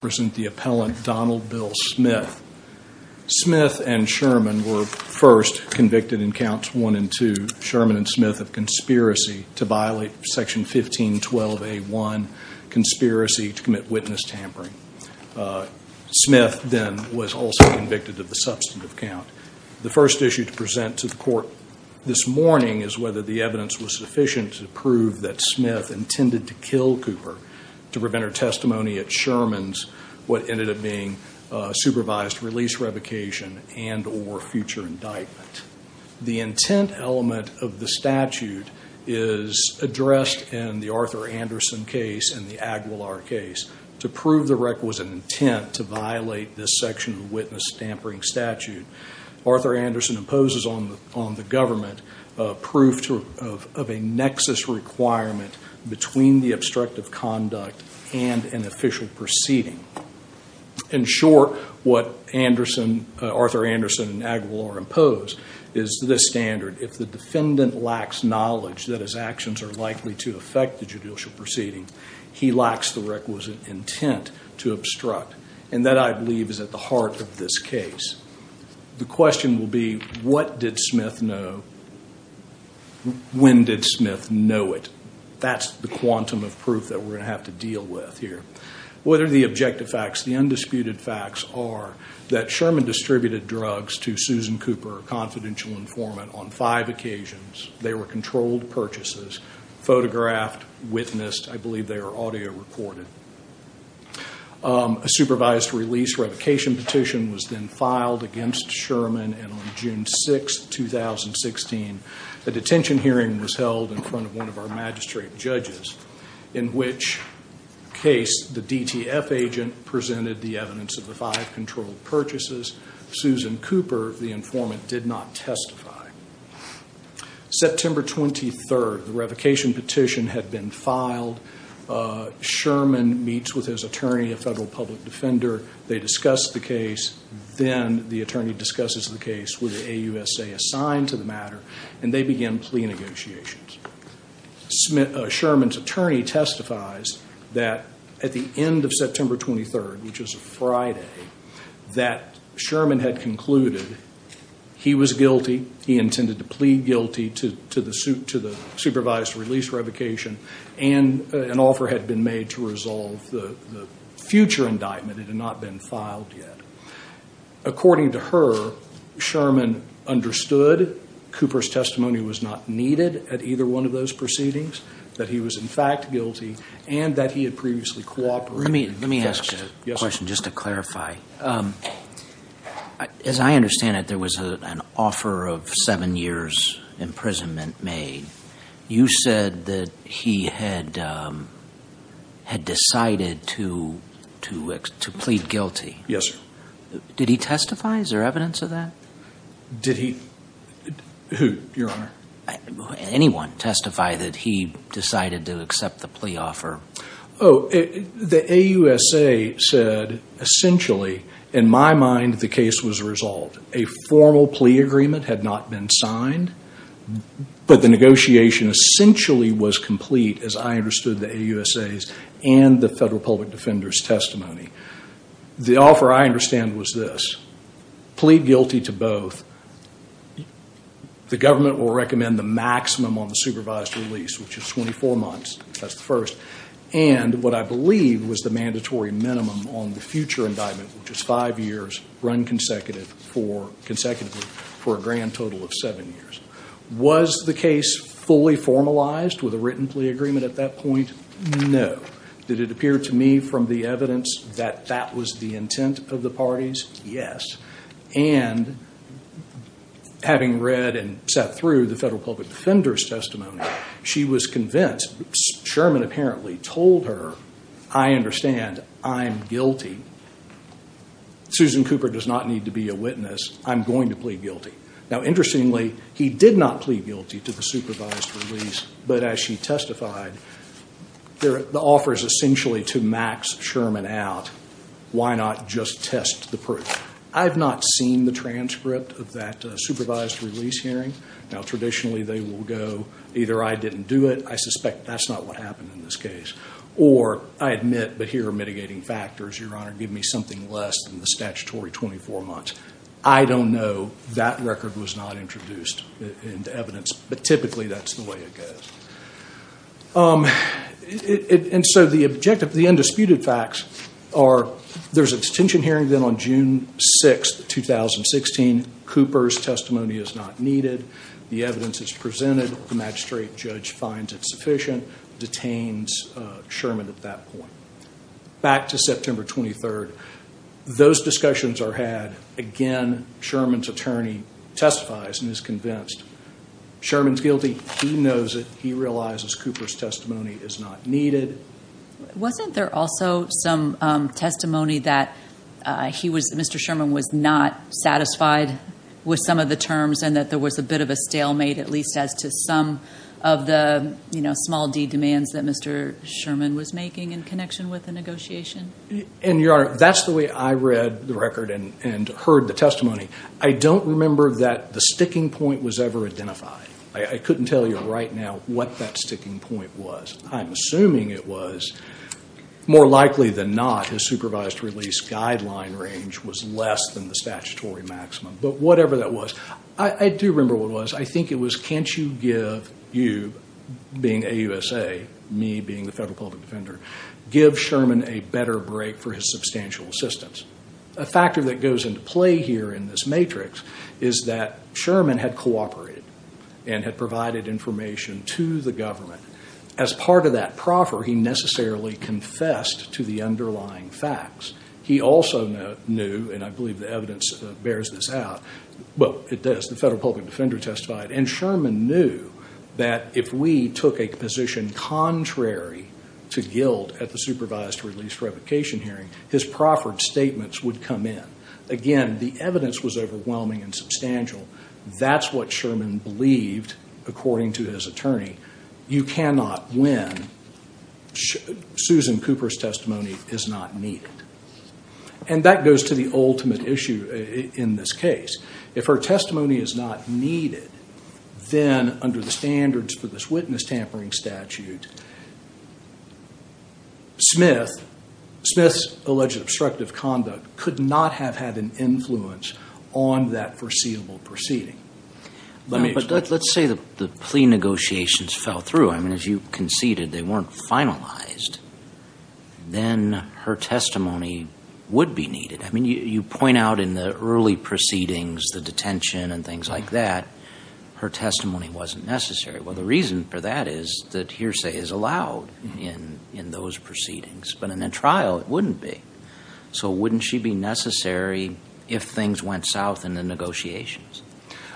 present the appellant Donald Bill Smith. Smith and Sherman were first convicted in counts one and two, Sherman and Smith, of conspiracy to violate section 1512A1, conspiracy to commit witness tampering. Smith then was also convicted of the substantive count. The first issue to present to the court this morning is whether the evidence was sufficient to prove that what ended up being supervised release revocation and or future indictment. The intent element of the statute is addressed in the Arthur Anderson case and the Aguilar case. To prove the requisite intent to violate this section of witness tampering statute, Arthur Anderson imposes on the government proof of a nexus requirement between the obstructive conduct and an official proceeding. In short, what Arthur Anderson and Aguilar impose is this standard. If the defendant lacks knowledge that his actions are likely to affect the judicial proceeding, he lacks the requisite intent to obstruct. And that, I believe, is at the heart of this case. The question will be, what did Smith know? When did Smith know it? That's the quantum of proof that we're going to have to deal with here. What are the objective facts? The undisputed facts are that Sherman distributed drugs to Susan Cooper, a confidential informant, on five occasions. They were controlled purchases, photographed, witnessed. I believe they were audio recorded. A supervised release revocation petition was then filed against Sherman. And on June 6, 2016, a detention hearing was held in front of one of our magistrate judges, in which case the DTF agent presented the evidence of the five controlled purchases. Susan Cooper, the informant, did not testify. September 23, the revocation petition had been filed. Sherman meets with his attorney, a federal public defender. They discuss the case. Then the attorney discusses the case with the AUSA assigned to the matter. And they begin plea negotiations. Sherman's attorney testifies that at the end of September 23, which is a Friday, that Sherman had concluded he was guilty. He intended to plead guilty to the supervised release revocation. And an offer had been made to resolve the future indictment. It had not been filed yet. According to her, Sherman understood Cooper's testimony was not needed at either one of those proceedings, that he was, in fact, guilty, and that he had previously cooperated and confessed. Let me ask a question just to clarify. As I understand it, there was an offer of seven years' imprisonment made. You said that he had decided to plead guilty. Yes, sir. Did he testify? Is there evidence of that? Did he? Who, Your Honor? Anyone testify that he decided to accept the plea offer? The AUSA said, essentially, in my mind, the case was resolved. A formal plea agreement had not been signed. But the negotiation essentially was complete, as I understood the AUSA's and the Federal Public Defender's testimony. The offer, I understand, was this. Plead guilty to both. The government will recommend the maximum on the supervised release, which is 24 months. That's the first. And what I believe was the mandatory minimum on the future indictment, which is five years, run consecutively for a grand total of seven years. Was the case fully formalized with a written plea agreement at that point? No. Did it appear to me from the evidence that that was the intent of the parties? Yes. And having read and sat through the Federal Public Defender's testimony, she was convinced. Sherman apparently told her, I understand. I'm guilty. Susan Cooper does not need to be a witness. I'm going to plead guilty to the supervised release. But as she testified, the offer is essentially to max Sherman out. Why not just test the proof? I've not seen the transcript of that supervised release hearing. Now, traditionally, they will go, either I didn't do it. I suspect that's not what happened in this case. Or, I admit, but here are mitigating factors, Your Honor. Give me something less than the statutory 24 months. I don't know. That record was not introduced into evidence. But typically, that's the way it goes. And so the objective, the undisputed facts are, there's a detention hearing then on June 6th, 2016. Cooper's testimony is not needed. The evidence is presented. The magistrate judge finds it sufficient, detains Sherman at that point. Back to September 23rd, those discussions are had. Again, Sherman's attorney testifies and is convinced. Sherman's guilty. He knows it. He realizes Cooper's testimony is not needed. Wasn't there also some testimony that he was, Mr. Sherman, was not satisfied with some of the terms and that there was a bit of a stalemate, at least as to some of the, you know, small d demands that Mr. Sherman was making in connection with the negotiation? And Your Honor, that's the way I read the record and heard the testimony. I don't remember that the sticking point was ever identified. I couldn't tell you right now what that sticking point was. I'm assuming it was, more likely than not, his supervised release guideline range was less than the statutory maximum. But whatever that was, I do remember what it was. I think it was, can't you give, you being AUSA, me being the federal public defender, give Sherman a better break for his substantial assistance? A factor that goes into play here in this matrix is that Sherman had cooperated and had provided information to the government. As part of that proffer, he necessarily confessed to the underlying facts. He also knew, and I believe the evidence bears this out, well, it does, the federal public defender testified, and Sherman knew that if we took a position contrary to guilt at the supervised release revocation hearing, his proffered statements would come in. Again, the evidence was overwhelming and substantial. That's what Sherman believed, according to his attorney. You cannot win. Susan Cooper's testimony is not needed. And that goes to the ultimate issue in this case. If her testimony is not needed, then under the standards for this witness tampering statute, Smith's alleged obstructive conduct could not have had an influence on that foreseeable proceeding. Let's say the plea negotiations fell through. I mean, if you conceded they weren't finalized, then her testimony would be needed. I mean, you point out in the early proceedings, the detention and things like that, her testimony wasn't necessary. Well, the reason for that is that hearsay is allowed in those proceedings. But in a trial, it wouldn't be. So wouldn't she be necessary if things went south in the negotiations?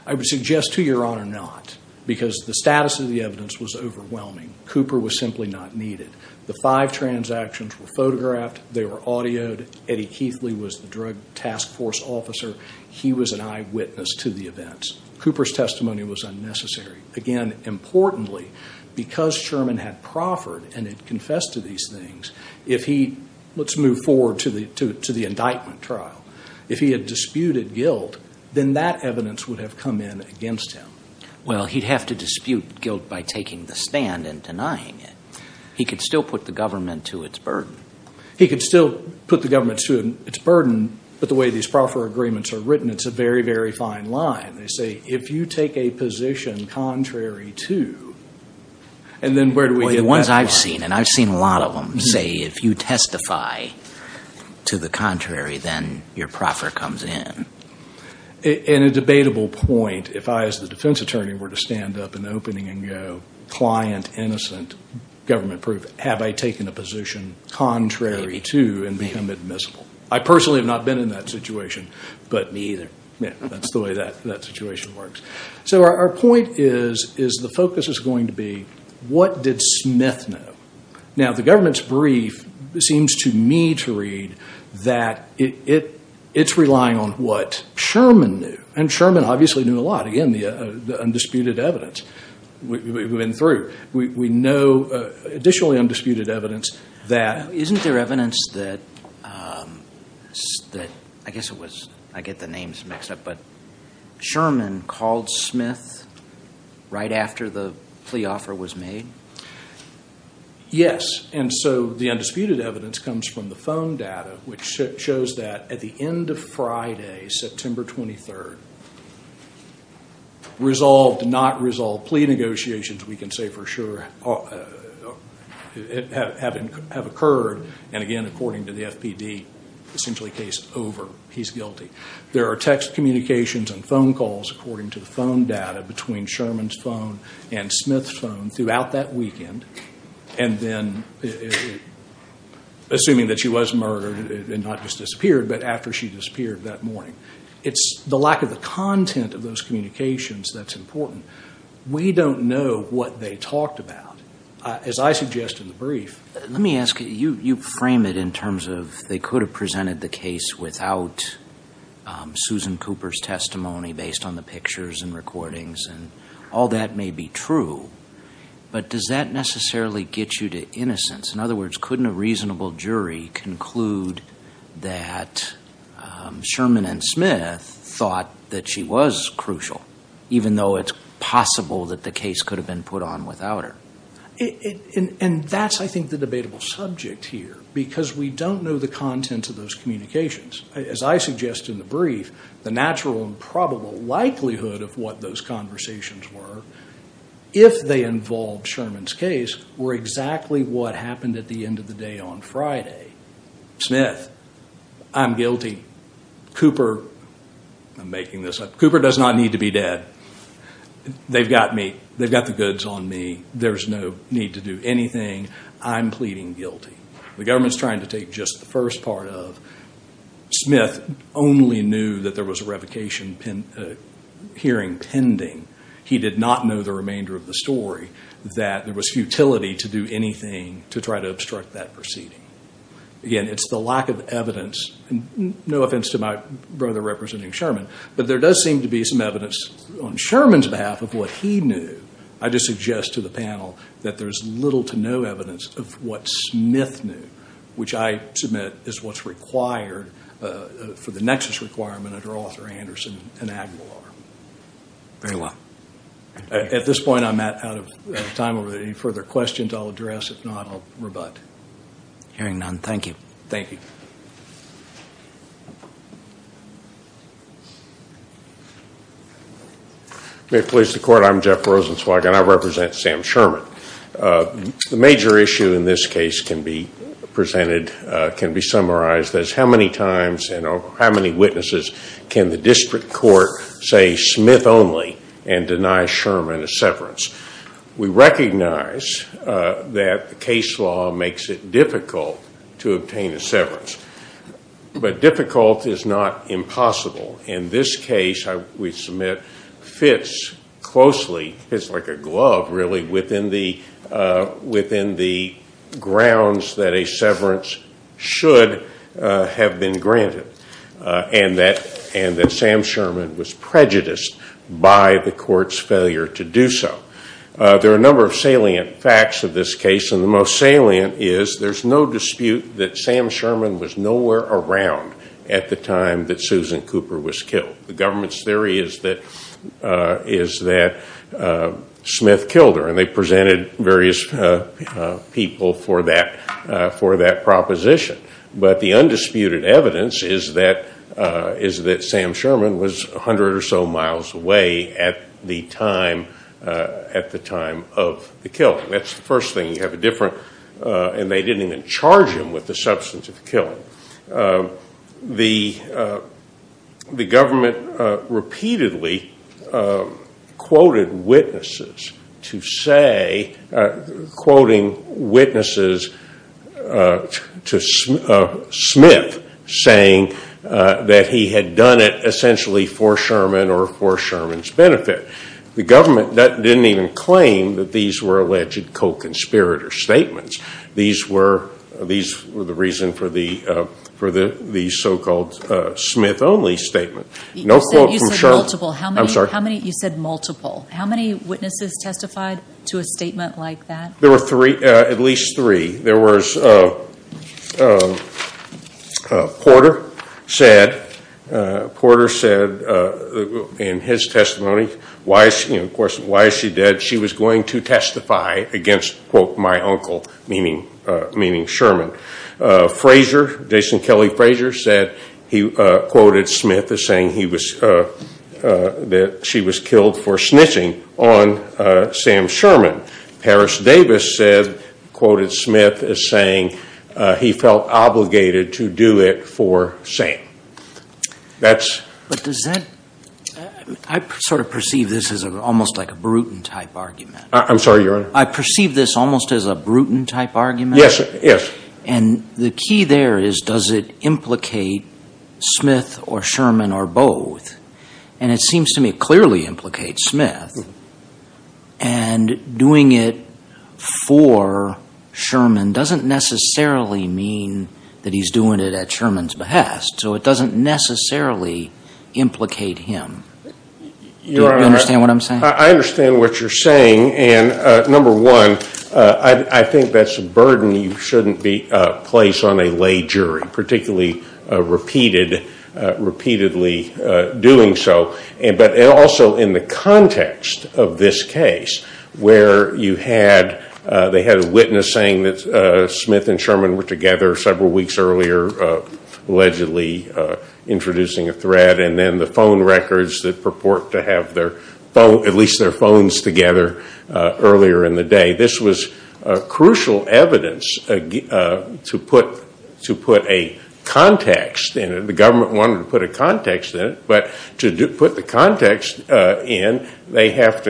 I would suggest to Your Honor, not, because the status of the evidence was overwhelming. Cooper was simply not needed. The five transactions were photographed. They were audioed. Eddie Keithley was the drug task force officer. He was an eyewitness to the events. Cooper's testimony was unnecessary. Again, importantly, because Sherman had proffered and had confessed to these things, if he, let's move forward to the indictment trial, if he had disputed guilt, then that evidence would have come in against him. Well, he'd have to dispute guilt by taking the stand and denying it. He could still put the government to its burden. He could still put the government to its burden, but the way these proffer agreements are written, it's a very, very fine line. They say, if you take a position contrary to, and then where do we get that line? Well, the ones I've seen, and I've seen a lot of them, say, if you testify to the contrary, then your proffer comes in. In a debatable point, if I, as the defense attorney, were to stand up in the opening and go, client innocent, government proof, have I taken a position contrary to and become admissible? I personally have not been in that situation, but Me either. Yeah, that's the way that situation works. So our point is, is the focus is going to be, what did Smith know? Now, the government's brief seems to me to read that it's relying on what Sherman knew, and Sherman obviously knew a lot. Again, the undisputed evidence we've been through. We know additionally undisputed evidence that Isn't there evidence that, I guess it was, I get the names mixed up, but Sherman called Smith right after the plea offer was made? Yes, and so the undisputed evidence comes from the phone data, which shows that at the end of Friday, September 23rd, resolved, not resolved plea negotiations, we can say for sure, have occurred, and again, according to the FPD, essentially case over. He's guilty. There are text communications and phone calls, according to the phone data between Sherman's phone and Smith's phone throughout that weekend, and then assuming that she was murdered and not just disappeared, but after she disappeared that morning. It's the lack of the content of those communications that's important. We don't know what they talked about. As I suggest in the brief Let me ask you, you frame it in terms of they could have presented the case without Susan Cooper's testimony based on the pictures and recordings, and all that may be true, but does that necessarily get you to innocence? In other words, couldn't a reasonable jury conclude that Sherman and Smith thought that she was crucial, even though it's possible that the case could have been put on without her? And that's, I think, the debatable subject here, because we don't know the content of those communications. As I suggest in the brief, the natural and probable likelihood of what those conversations were, if they involved Sherman's case, were exactly what happened at the end of the day on Friday. Smith, I'm guilty. Cooper, I'm making this up. Cooper does not need to be dead. They've got me. They've got the goods on me. There's no need to do anything. I'm pleading guilty. The government's trying to take just the first part of it. Smith only knew that there was a revocation hearing pending. He did not know the remainder of the story, that there was futility to do anything to try to obstruct that proceeding. Again, it's the lack of evidence. No offense to my brother representing Sherman, but there does seem to be some evidence on Sherman's behalf of what he knew. I just suggest to the panel that there's little to no evidence of what Smith knew, which I submit is what's required for the nexus requirement under Arthur Anderson and Aguilar. Very well. At this point, I'm out of time. Are there any further questions I'll address? If not, I'll rebut. Hearing none, thank you. Thank you. May it please the court, I'm Jeff Rosenzweig and I represent Sam Sherman. The major issue in this case can be presented, can be summarized as how many times and how many witnesses can the district court say Smith only and deny Sherman a severance. We recognize that the this case, we submit, fits closely, fits like a glove really, within the grounds that a severance should have been granted and that Sam Sherman was prejudiced by the court's failure to do so. There are a number of salient facts of this case and the most salient is there's no dispute that Sam Sherman was nowhere around at the time that Susan Cooper was killed. The government's theory is that Smith killed her and they presented various people for that proposition. But the undisputed evidence is that Sam Sherman was 100 or so miles away at the time of the killing. That's the first thing. You have a different, and they didn't charge him with the substance of the killing. The government repeatedly quoted witnesses to say, quoting witnesses to Smith saying that he had done it essentially for Sherman or for Sherman's benefit. The government didn't even claim that these were alleged co-conspirator statements. These were the reason for the so-called Smith only statement. You said multiple. How many witnesses testified to a statement like that? There were at least three. Porter said in his testimony, why is she dead? She was going to testify against, quote, my uncle, meaning Sherman. Fraser, Jason Kelly Fraser, quoted Smith as saying that she was killed for snitching on Sam Sherman. Paris Davis quoted Smith as saying he felt obligated to do it for Sam. I sort of perceive this as almost like a Bruton type argument. I perceive this almost as a Bruton type argument? Yes. And the key there is does it implicate Smith or Sherman or both? And it seems to me it clearly implicates Smith. And doing it for Sherman doesn't necessarily mean that he's doing it at Sherman's behest. So it doesn't necessarily implicate him. Do you understand what I'm saying? I understand what you're saying. And number one, I think that's a burden you shouldn't place on a lay jury, particularly repeatedly doing so. But also in the context of this case where you had, they had a witness saying that Smith and Sherman were together several weeks earlier, allegedly introducing a threat, and then the phone records that purport to have at least their phones together earlier in the day, this was crucial evidence to put a context in it. The government wanted to put a context in it. But to put the context in, they have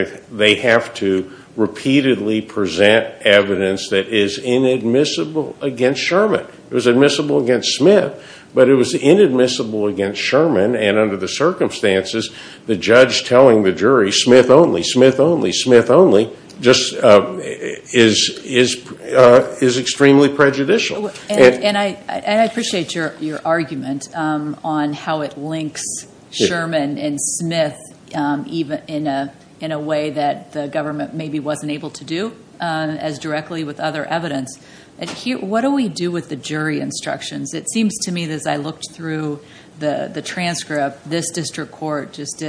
to repeatedly present evidence that is inadmissible against Sherman. It was admissible against Smith, but it was inadmissible against Sherman. And under the circumstances, the judge telling the jury, Smith only, Smith only, Smith only, is extremely prejudicial. And I appreciate your argument on how it links Sherman and Smith in a way that the government maybe wasn't able to do as directly with other evidence. What do we do with the jury instructions? It seems to me as I looked through the transcript, this district court just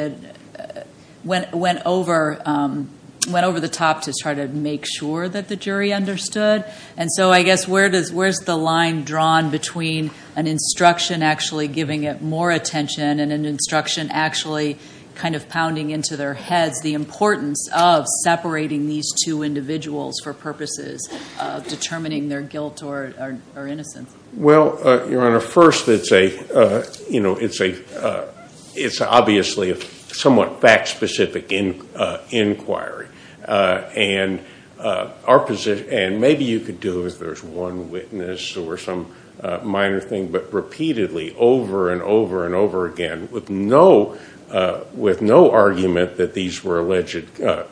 went over the top to try to make sure that the jury understood. And so I guess where's the line drawn between an instruction actually giving it more attention and an instruction actually kind of pounding into their heads the importance of separating these two individuals for purposes of determining their guilt or innocence? Well, Your Honor, first it's a, you know, it's a, it's obviously a somewhat fact-specific inquiry. And our position, and maybe you could do it if there's one witness or some minor thing, but repeatedly over and over and over again with no, with no argument that these were alleged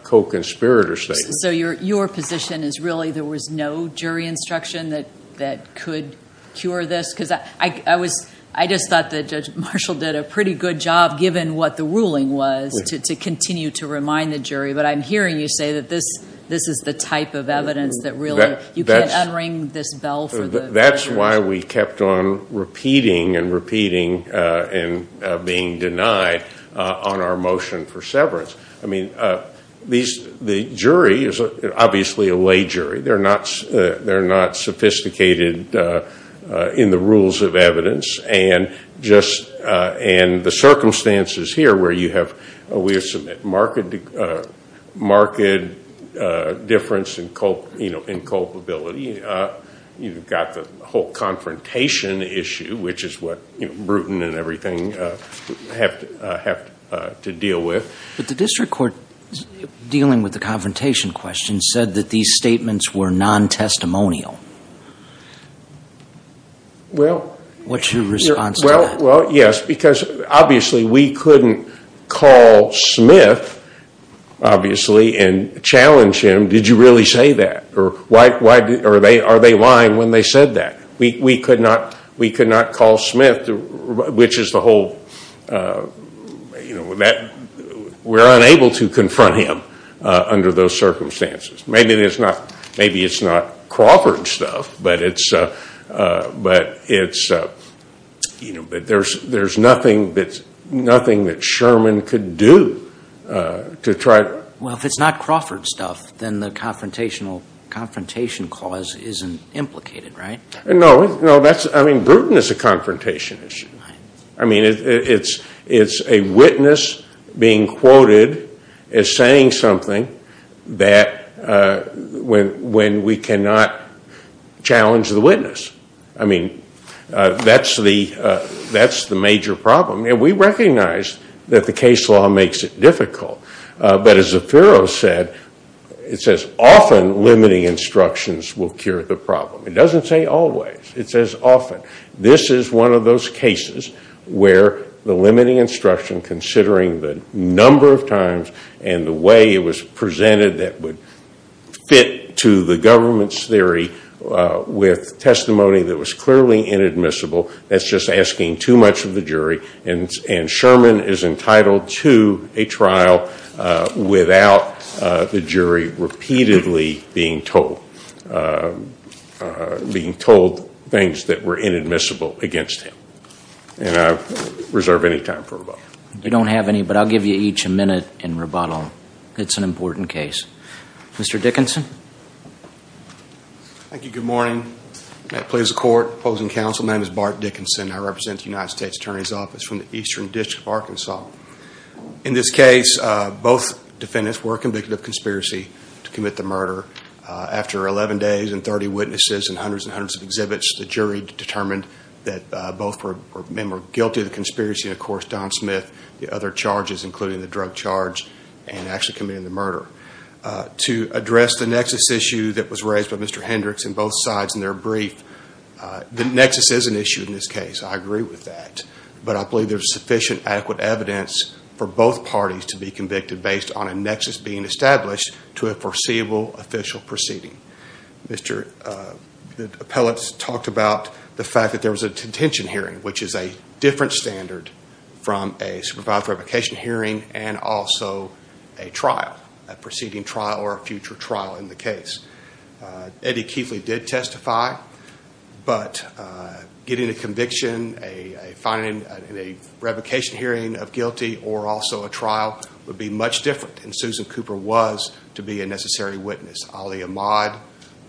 co-conspirator statements. So your position is really there was no jury instruction that could cure this? Because I was, I just thought that Judge Marshall did a pretty good job given what the ruling was to continue to remind the jury. But I'm hearing you say that this is the type of evidence that really, you can't unring this bell for the... That's why we kept on repeating and repeating and being denied on our motion for severance. I mean, these, the jury is obviously a lay jury. They're not, they're not sophisticated in the rules of evidence. And just, and the circumstances here where you have, we have some marked difference in culpability. You've got the whole confrontation issue, which is what, you know, Bruton and everything have to deal with. But the district court, dealing with the confrontation question, said that these statements were non-testimonial. Well... What's your response to that? Well, yes, because obviously we couldn't call Smith, obviously, and challenge him, did you really say that? Or are they lying when they said that? We could not call Smith, which is the whole, you know, that we're unable to confront him under those circumstances. Maybe there's not, maybe it's not Crawford stuff, but it's, but it's, you know, but there's, there's nothing that's, nothing that Sherman could do to try to... Well, if it's not Crawford stuff, then the confrontational, confrontation clause isn't implicated, right? No, no, that's, I mean, Bruton is a confrontation issue. I mean, it's, it's a witness being quoted as saying something that, when, when we cannot challenge the witness. I mean, that's the, that's the major problem. And we recognize that the case law makes it difficult. But as the often, this is one of those cases where the limiting instruction, considering the number of times and the way it was presented, that would fit to the government's theory with testimony that was clearly inadmissible, that's just asking too much of the jury. And, and Sherman is entitled to a trial without the jury repeatedly being told, being told things that were inadmissible against him. And I reserve any time for rebuttal. We don't have any, but I'll give you each a minute in rebuttal. It's an important case. Mr. Dickinson. Thank you. Good morning. May it please the court. Opposing counsel. My name is Bart Dickinson. I represent the Eastern District of Arkansas. In this case, both defendants were convicted of conspiracy to commit the murder. After 11 days and 30 witnesses and hundreds and hundreds of exhibits, the jury determined that both men were guilty of the conspiracy. And of course, Don Smith, the other charges, including the drug charge and actually committing the murder. To address the nexus issue that was raised by Mr. Hendricks in both sides in their brief, the nexus is an issue in this case. I agree with that, but I believe there's sufficient adequate evidence for both parties to be convicted based on a nexus being established to a foreseeable official proceeding. Mr. Appellate talked about the fact that there was a contention hearing, which is a different standard from a supervisory application hearing and also a trial, a but getting a conviction, a finding in a revocation hearing of guilty or also a trial would be much different. And Susan Cooper was to be a necessary witness. Ali Ahmad,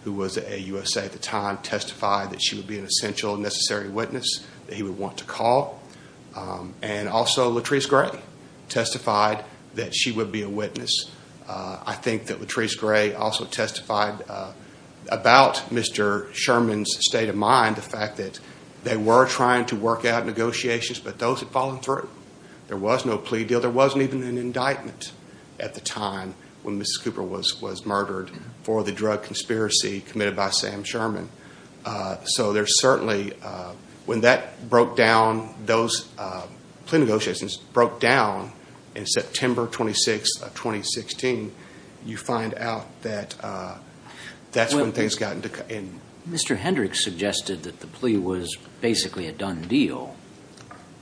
who was a USA at the time, testified that she would be an essential necessary witness that he would want to call. And also Latrice Gray testified that she would be a witness. I think that Latrice Gray also testified about Mr. Sherman's state of mind, the fact that they were trying to work out negotiations, but those had fallen through. There was no plea deal. There wasn't even an indictment at the time when Mrs. Cooper was murdered for the drug conspiracy committed by Sam Sherman. So there's certainly, when that broke down, those plea negotiations broke down in September 26th of 2016, you find out that that's when things got in. Mr. Hendricks suggested that the plea was basically a done deal.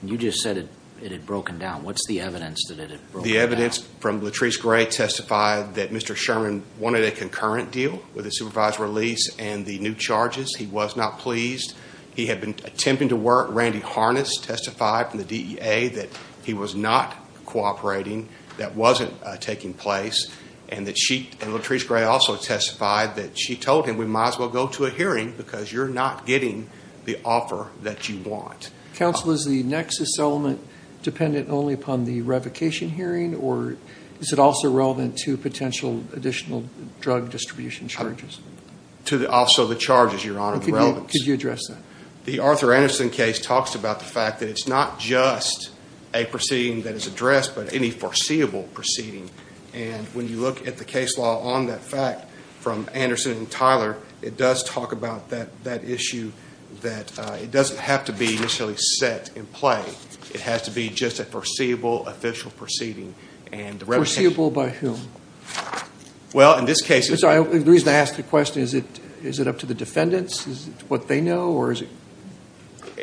You just said it had broken down. What's the evidence that it had broken down? The evidence from Latrice Gray testified that Mr. Sherman wanted a concurrent deal with the supervised release and the new charges. He was not pleased. He had been attempting to work. Randy Harness testified from the DEA that he was not cooperating, that wasn't taking place, and Latrice Gray also testified that she told him we might as well go to a hearing because you're not getting the offer that you want. Counsel, is the nexus element dependent only upon the revocation hearing or is it also relevant to potential additional drug distribution charges? To also the charges, Your Honor. Could you address the Arthur Anderson case talks about the fact that it's not just a proceeding that is addressed, but any foreseeable proceeding. And when you look at the case law on that fact from Anderson and Tyler, it does talk about that issue that it doesn't have to be initially set in play. It has to be just a foreseeable official proceeding and the revocation. Foreseeable by whom? Well, in this case. The reason I asked the question is it up to the defendants? Is it what they know or is it?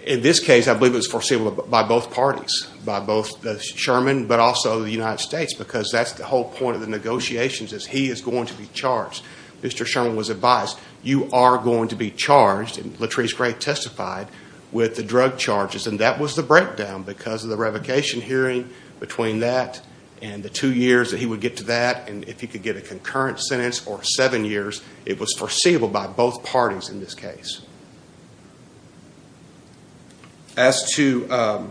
In this case, I believe it's foreseeable by both parties, by both the Sherman but also the United States because that's the whole point of the negotiations is he is going to be charged. Mr. Sherman was advised you are going to be charged, and Latrice Gray testified, with the drug charges and that was the breakdown because of the revocation hearing between that and the two years that he would get to that and if he could get a concurrent sentence or seven years, it was foreseeable by both parties in this case. As to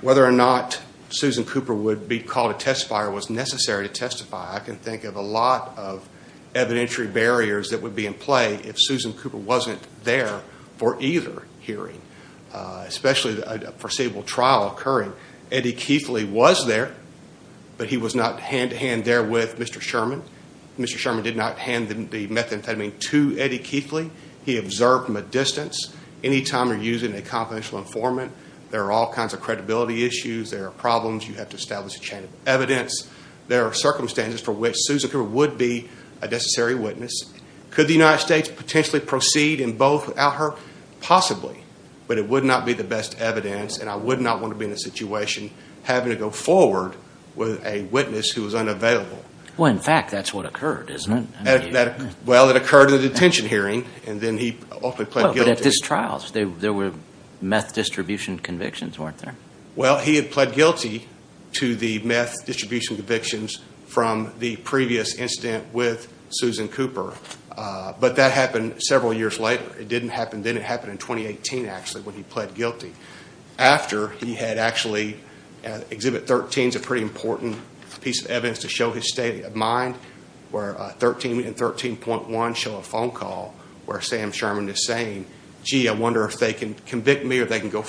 whether or not Susan Cooper would be called a testifier was necessary to testify. I can think of a lot of evidentiary barriers that would be in play if Susan Cooper wasn't there for either hearing, especially a foreseeable trial occurring. Eddie Keithley was there, but he was not hand-to-hand there with Mr. Sherman. Mr. Sherman did not hand the methamphetamine to Eddie Keithley. He observed from a distance. Any time you are using a confidential informant, there are all kinds of credibility issues. There are problems. You have to establish a chain of evidence. There are circumstances for which Susan Cooper would be a necessary witness. Could the United States potentially proceed in both out her? Possibly, but it would not be the best evidence and I would not want to be in a situation having to go forward with a witness who was unavailable. Well, in fact, that's what occurred, isn't it? Well, it occurred in the detention hearing and then he ultimately pled guilty. But at these trials, there were meth distribution convictions, weren't there? Well, he had pled guilty to the meth distribution convictions from the previous incident with Susan Cooper. But that happened several years later. It didn't happen then. It happened in 2018, actually, when he pled guilty. After, he had actually, Exhibit 13 is a pretty important piece of evidence to show his state of mind where 13 and 13.1 show a phone call where Sam Sherman is saying, gee, I wonder if they can convict me or they can go We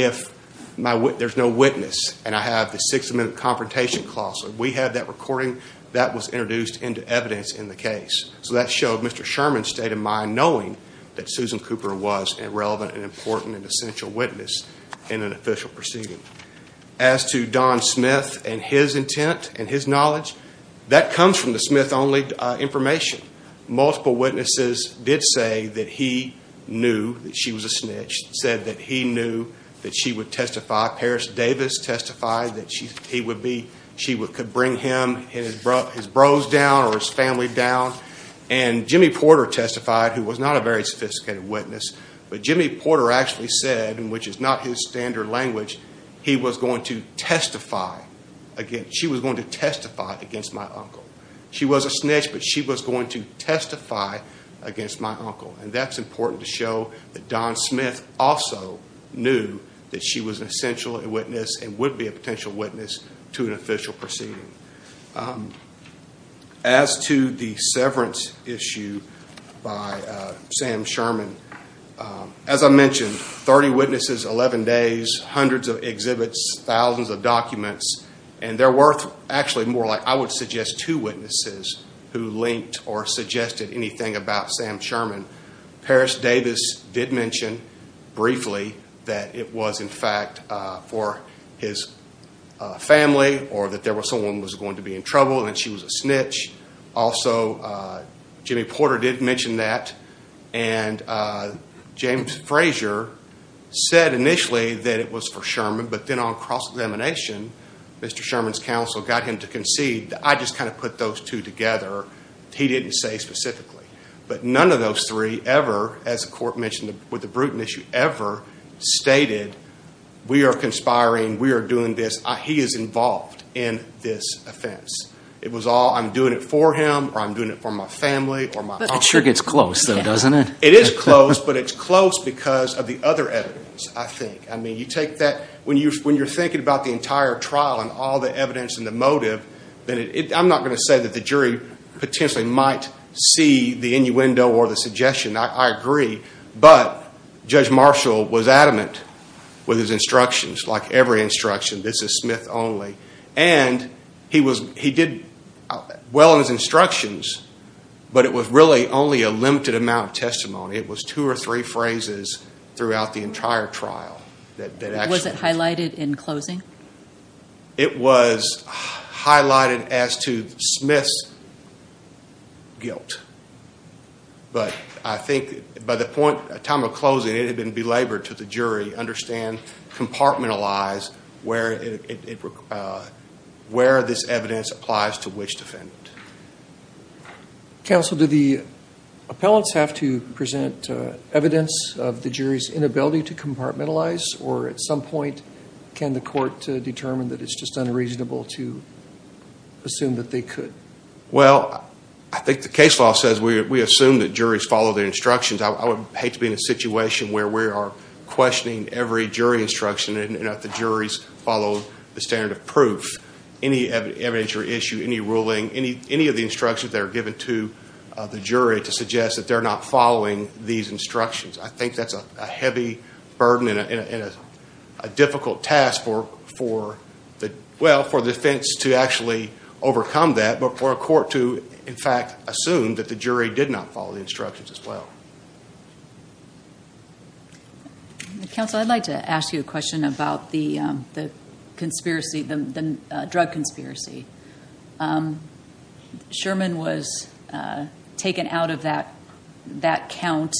have that recording that was introduced into evidence in the case. So, that showed Mr. Sherman's state of mind knowing that Susan Cooper was a relevant and important and essential witness in an official proceeding. As to Don Smith and his intent and his knowledge, that comes from the Smith-only information. Multiple witnesses did say that he knew that she was a snitch, said that he that she would testify. Paris Davis testified that she could bring him and his bros down or his family down. And Jimmy Porter testified, who was not a very sophisticated witness, but Jimmy Porter actually said, which is not his standard language, he was going to testify against, she was going to testify against my uncle. She was a snitch, but she was going to testify against my uncle. And that's important to show that Don Smith also knew that she was an essential witness and would be a potential witness to an official proceeding. As to the severance issue by Sam Sherman, as I mentioned, 30 witnesses, 11 days, hundreds of exhibits, thousands of documents, and there were actually I would suggest two witnesses who linked or suggested anything about Sam Sherman. Paris Davis did mention briefly that it was, in fact, for his family or that someone was going to be in trouble and that she was a snitch. Also, Jimmy Porter did mention that. And James Frazier said initially that it was for Sherman, but then on cross-examination, Mr. Sherman's counsel got him to concede that I just kind of put those two together. He didn't say specifically. But none of those three ever, as the court mentioned with the Bruton issue, ever stated we are conspiring, we are doing this, he is involved in this offense. It was all I'm doing it for him or I'm doing it for my family or my uncle. That sure gets close though, doesn't it? It is close, but it's close because of the other evidence, I think. I mean, you take that, when you're thinking about the entire trial and all the evidence and the motive, I'm not going to say that the jury potentially might see the innuendo or the suggestion. I agree. But Judge Marshall was adamant with his instructions, like every instruction, this is Smith only. And he did well in his instructions, but it was really only a limited amount of testimony. It was two or three phrases throughout the entire trial. Was it highlighted in closing? It was highlighted as to Smith's guilt. But I think by the time of closing it had been belabored to the jury, understand, compartmentalize where this evidence applies to which defendant. Counsel, do the appellants have to present evidence of the jury's inability to compartmentalize or at some point can the court determine that it's just unreasonable to assume that they could? Well, I think the case law says we assume that juries follow their instructions. I would hate to be in a situation where we are questioning every jury instruction and that the juries follow the standard of proof. Any evidence or issue, any ruling, any of the instructions that are given to the jury to suggest that they're not following these instructions. I think that's a difficult task for the defense to actually overcome that, but for a court to, in fact, assume that the jury did not follow the instructions as well. Counsel, I'd like to ask you a question about the drug conspiracy. Sherman was taken out of that count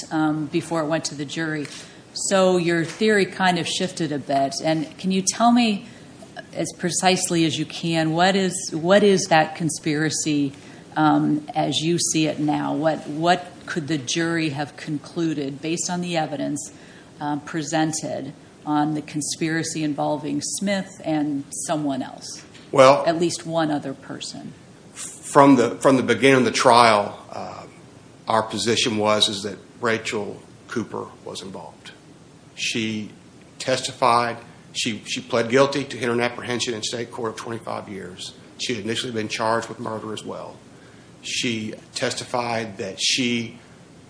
before it went to the jury. So your theory kind of shifted a bit. And can you tell me as precisely as you can, what is that conspiracy as you see it now? What could the jury have concluded based on the evidence presented on the conspiracy involving Smith and someone else, at least one other person? Well, from the beginning of the trial, our position was that Rachel Cooper was involved. She testified, she pled guilty to hit and apprehension in state court of 25 years. She had initially been charged with murder as well. She testified that she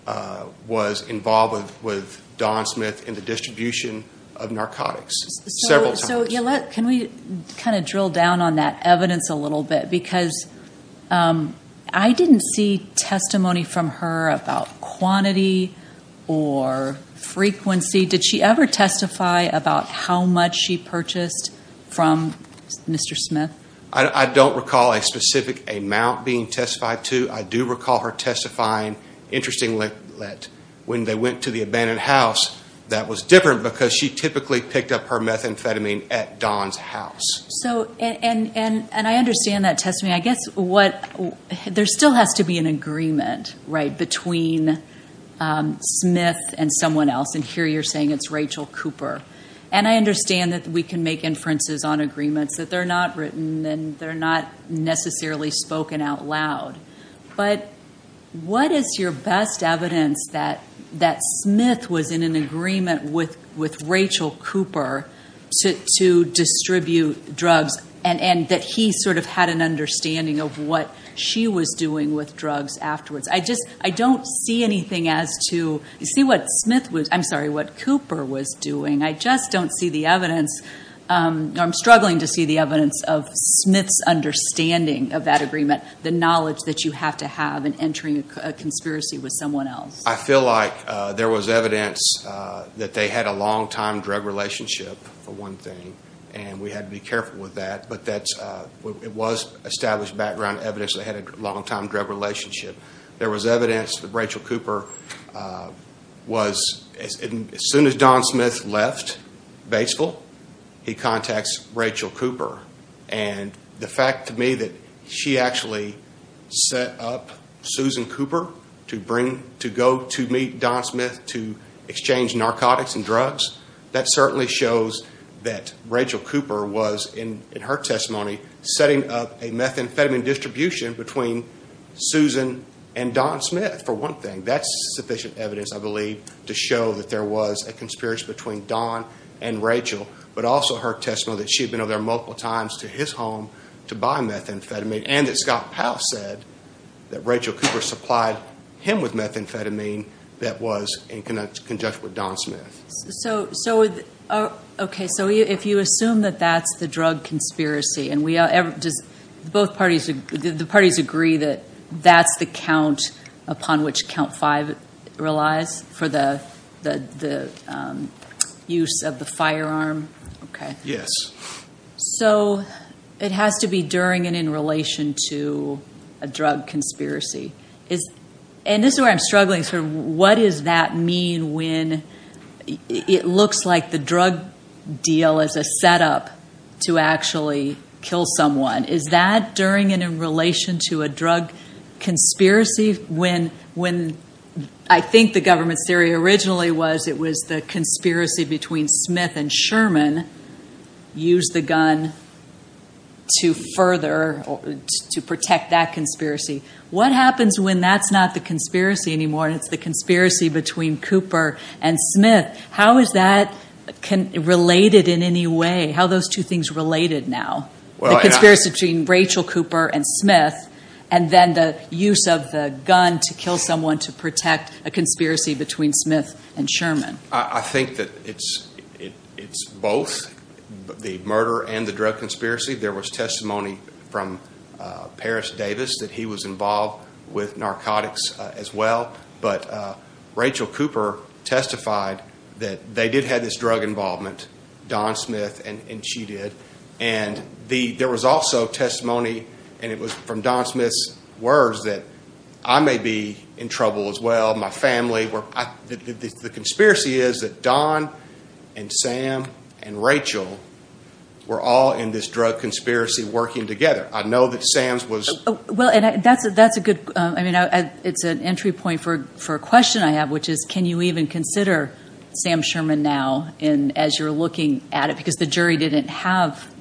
was involved with Don Smith in the distribution of narcotics several times. So can we kind of drill down on that evidence a little bit? Because I didn't see testimony from her about quantity or frequency. Did she ever testify about how much she purchased from Mr. Smith? I don't recall a specific amount being testified. Interestingly, when they went to the abandoned house, that was different because she typically picked up her methamphetamine at Don's house. And I understand that testimony. I guess there still has to be an agreement between Smith and someone else. And here you're saying it's Rachel Cooper. And I understand that we can make inferences on agreements that they're not written and they're not necessarily spoken out loud. But what is your best evidence that Smith was in an agreement with Rachel Cooper to distribute drugs and that he sort of had an understanding of what she was doing with drugs afterwards? I don't see anything as to, you see what Smith was, I'm sorry, what Cooper was doing. I just don't see the evidence. I'm struggling to see the Smith's understanding of that agreement, the knowledge that you have to have in entering a conspiracy with someone else. I feel like there was evidence that they had a long-time drug relationship, for one thing. And we had to be careful with that. But it was established background evidence they had a long-time drug relationship. There was evidence that Rachel Cooper was, as soon as Don Smith left Batesville, he contacts Rachel Cooper. And the fact to me that she actually set up Susan Cooper to go to meet Don Smith to exchange narcotics and drugs, that certainly shows that Rachel Cooper was, in her testimony, setting up a methamphetamine distribution between Susan and Don Smith, for one thing. That's sufficient evidence, I believe, to show that there was a conspiracy between Don and Rachel, but also her testimony that she had been over there multiple times to his home to buy methamphetamine, and that Scott Powell said that Rachel Cooper supplied him with methamphetamine that was in conjunction with Don The parties agree that that's the count upon which count five relies for the use of the firearm? Okay. Yes. So it has to be during and in relation to a drug conspiracy. And this is where I'm struggling. What does that mean when it looks like the drug deal is a setup to actually kill someone? Is that during and in relation to a drug conspiracy? I think the government's theory originally was it was the conspiracy between Smith and Sherman used the gun to protect that conspiracy. What happens when that's not the related in any way? How those two things related now? The conspiracy between Rachel Cooper and Smith, and then the use of the gun to kill someone to protect a conspiracy between Smith and Sherman. I think that it's both the murder and the drug conspiracy. There was testimony from Paris Davis that he was involved with narcotics as well. But Rachel Cooper testified that they did have this drug involvement, Don Smith and she did. And there was also testimony and it was from Don Smith's words that I may be in trouble as well, my family. The conspiracy is that Don and Sam and Rachel were all in this drug conspiracy working together. I know that Sam's was... Well, and that's a good, I mean, it's an entry point for a question I have, which is can you even consider Sam Sherman now as you're looking at it? Because the jury didn't have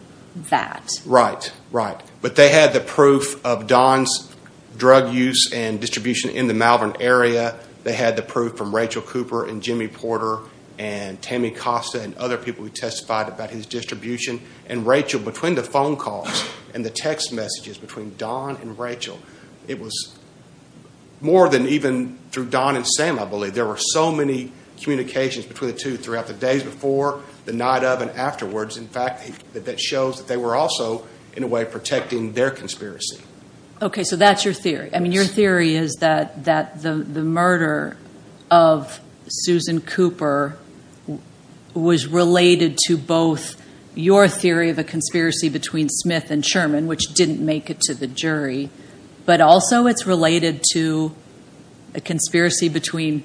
that. Right, right. But they had the proof of Don's drug use and distribution in the Malvern area. They had the proof from Rachel Cooper and Jimmy Porter and Tammy Costa and other people who testified about his distribution. And Rachel, between the phone calls and the text messages between Don and Rachel, it was more than even through Don and Sam, I believe. There were so many communications between the two throughout the days before, the night of, and afterwards. In fact, that shows that they were also in a way protecting their conspiracy. Okay. So that's your theory. I mean, your theory is that the murder of Susan Cooper was related to both your theory of a conspiracy between Smith and Sherman, which didn't make it to the jury, but also it's related to a conspiracy between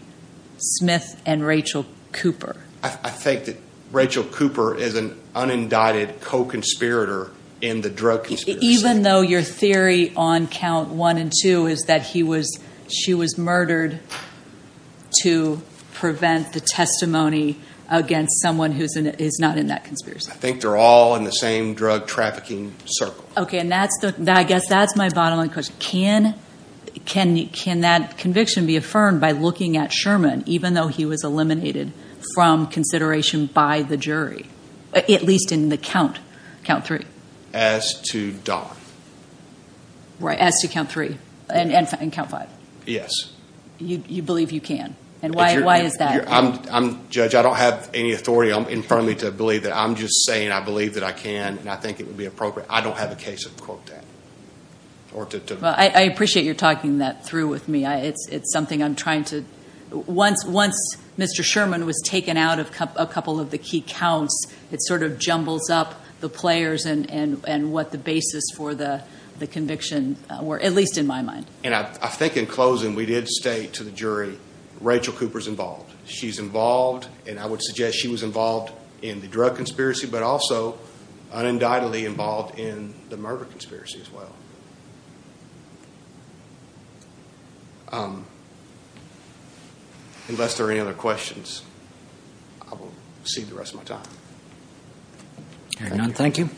Smith and Rachel Cooper. I think that Rachel Cooper is an unindicted co-conspirator in the drug conspiracy. Even though your theory on count one and two is that he was, she was murdered to prevent the testimony against someone who's not in that circle. Okay. And that's the, I guess that's my bottom line question. Can that conviction be affirmed by looking at Sherman, even though he was eliminated from consideration by the jury, at least in the count three? As to Don. Right. As to count three and count five. Yes. You believe you can. And why is that? Judge, I don't have any authority. I'm infirmly to believe that. I'm just saying I believe that I can, and I think it would be appropriate. I don't have a case of quote that. I appreciate you're talking that through with me. It's something I'm trying to, once Mr. Sherman was taken out of a couple of the key counts, it sort of jumbles up the players and what the basis for the conviction were, at least in my mind. And I think in closing, we did state to the jury, Rachel Cooper's involved. She's involved, and I would suggest she was involved in the drug conspiracy, but also un-indictedly involved in the murder conspiracy as well. Unless there are any other questions, I will cede the rest of my time. Thank you.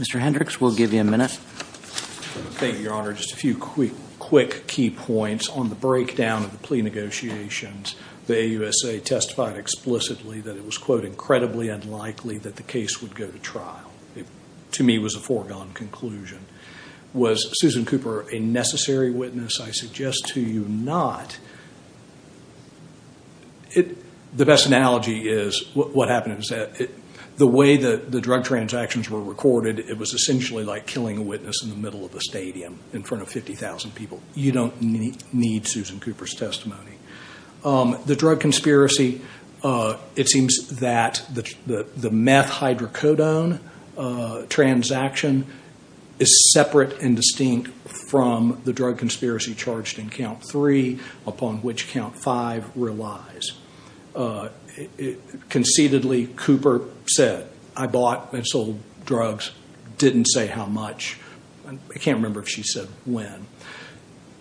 Mr. Hendricks, we'll give you a minute. Thank you, Your Honor. Just a few quick key points on the breakdown of the plea negotiations the AUSA testified explicitly that it was quote incredibly unlikely that the case would go to trial. To me, it was a foregone conclusion. Was Susan Cooper a necessary witness? I suggest to you not. The best analogy is what happened is that the way that the drug transactions were recorded, it was essentially like killing a witness in the middle of a stadium in front of 50,000 people. You don't need Susan Cooper's testimony. The drug conspiracy, it seems that the meth hydrocodone transaction is separate and distinct from the drug conspiracy charged in count three, upon which count five relies. Conceitedly, Cooper said, I bought and sold drugs, didn't say how much. I can't remember if she said when.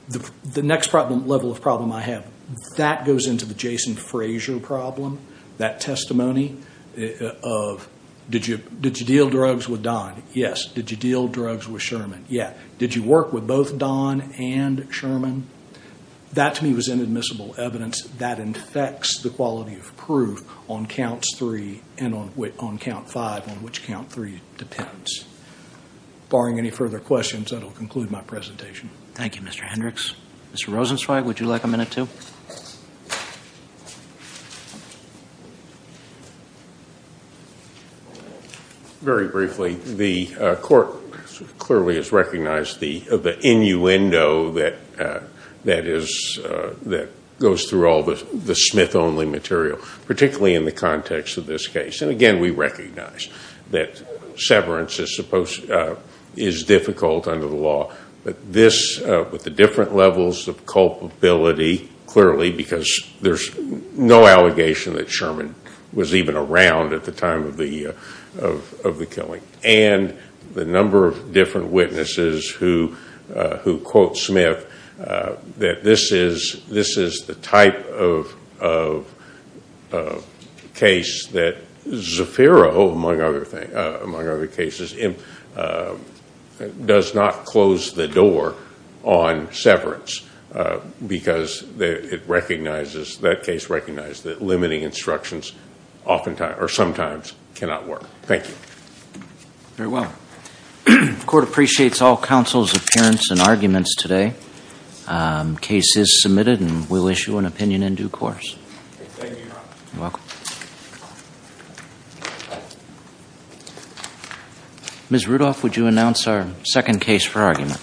The next level of problem I have, that goes into the Jason Frazier problem, that testimony of did you deal drugs with Don? Yes. Did you deal drugs with Sherman? Yeah. Did you work with both Don and Sherman? That to me was inadmissible evidence that infects the quality of proof on counts three and on count five, which count three depends. Barring any further questions, that will conclude my presentation. Thank you, Mr. Hendricks. Mr. Rosenzweig, would you like a minute too? Very briefly, the court clearly has recognized the innuendo that goes through all the Smith-only material, particularly in the context of this case. Again, we recognize that severance is difficult under the law, but this, with the different levels of culpability, clearly, because there's no allegation that Sherman was even around at the time of the killing, and the number of different witnesses who quote Smith, that this is the type of case that Zafiro, among other cases, does not close the door on severance, because that case recognizes that limiting instructions oftentimes or sometimes cannot work. Thank you. Very well. The court appreciates all counsel's appearance and arguments today. Case is submitted and we'll issue an opinion in due course. Thank you, Your Honor. You're welcome. Ms. Rudolph, would you announce our second case for argument?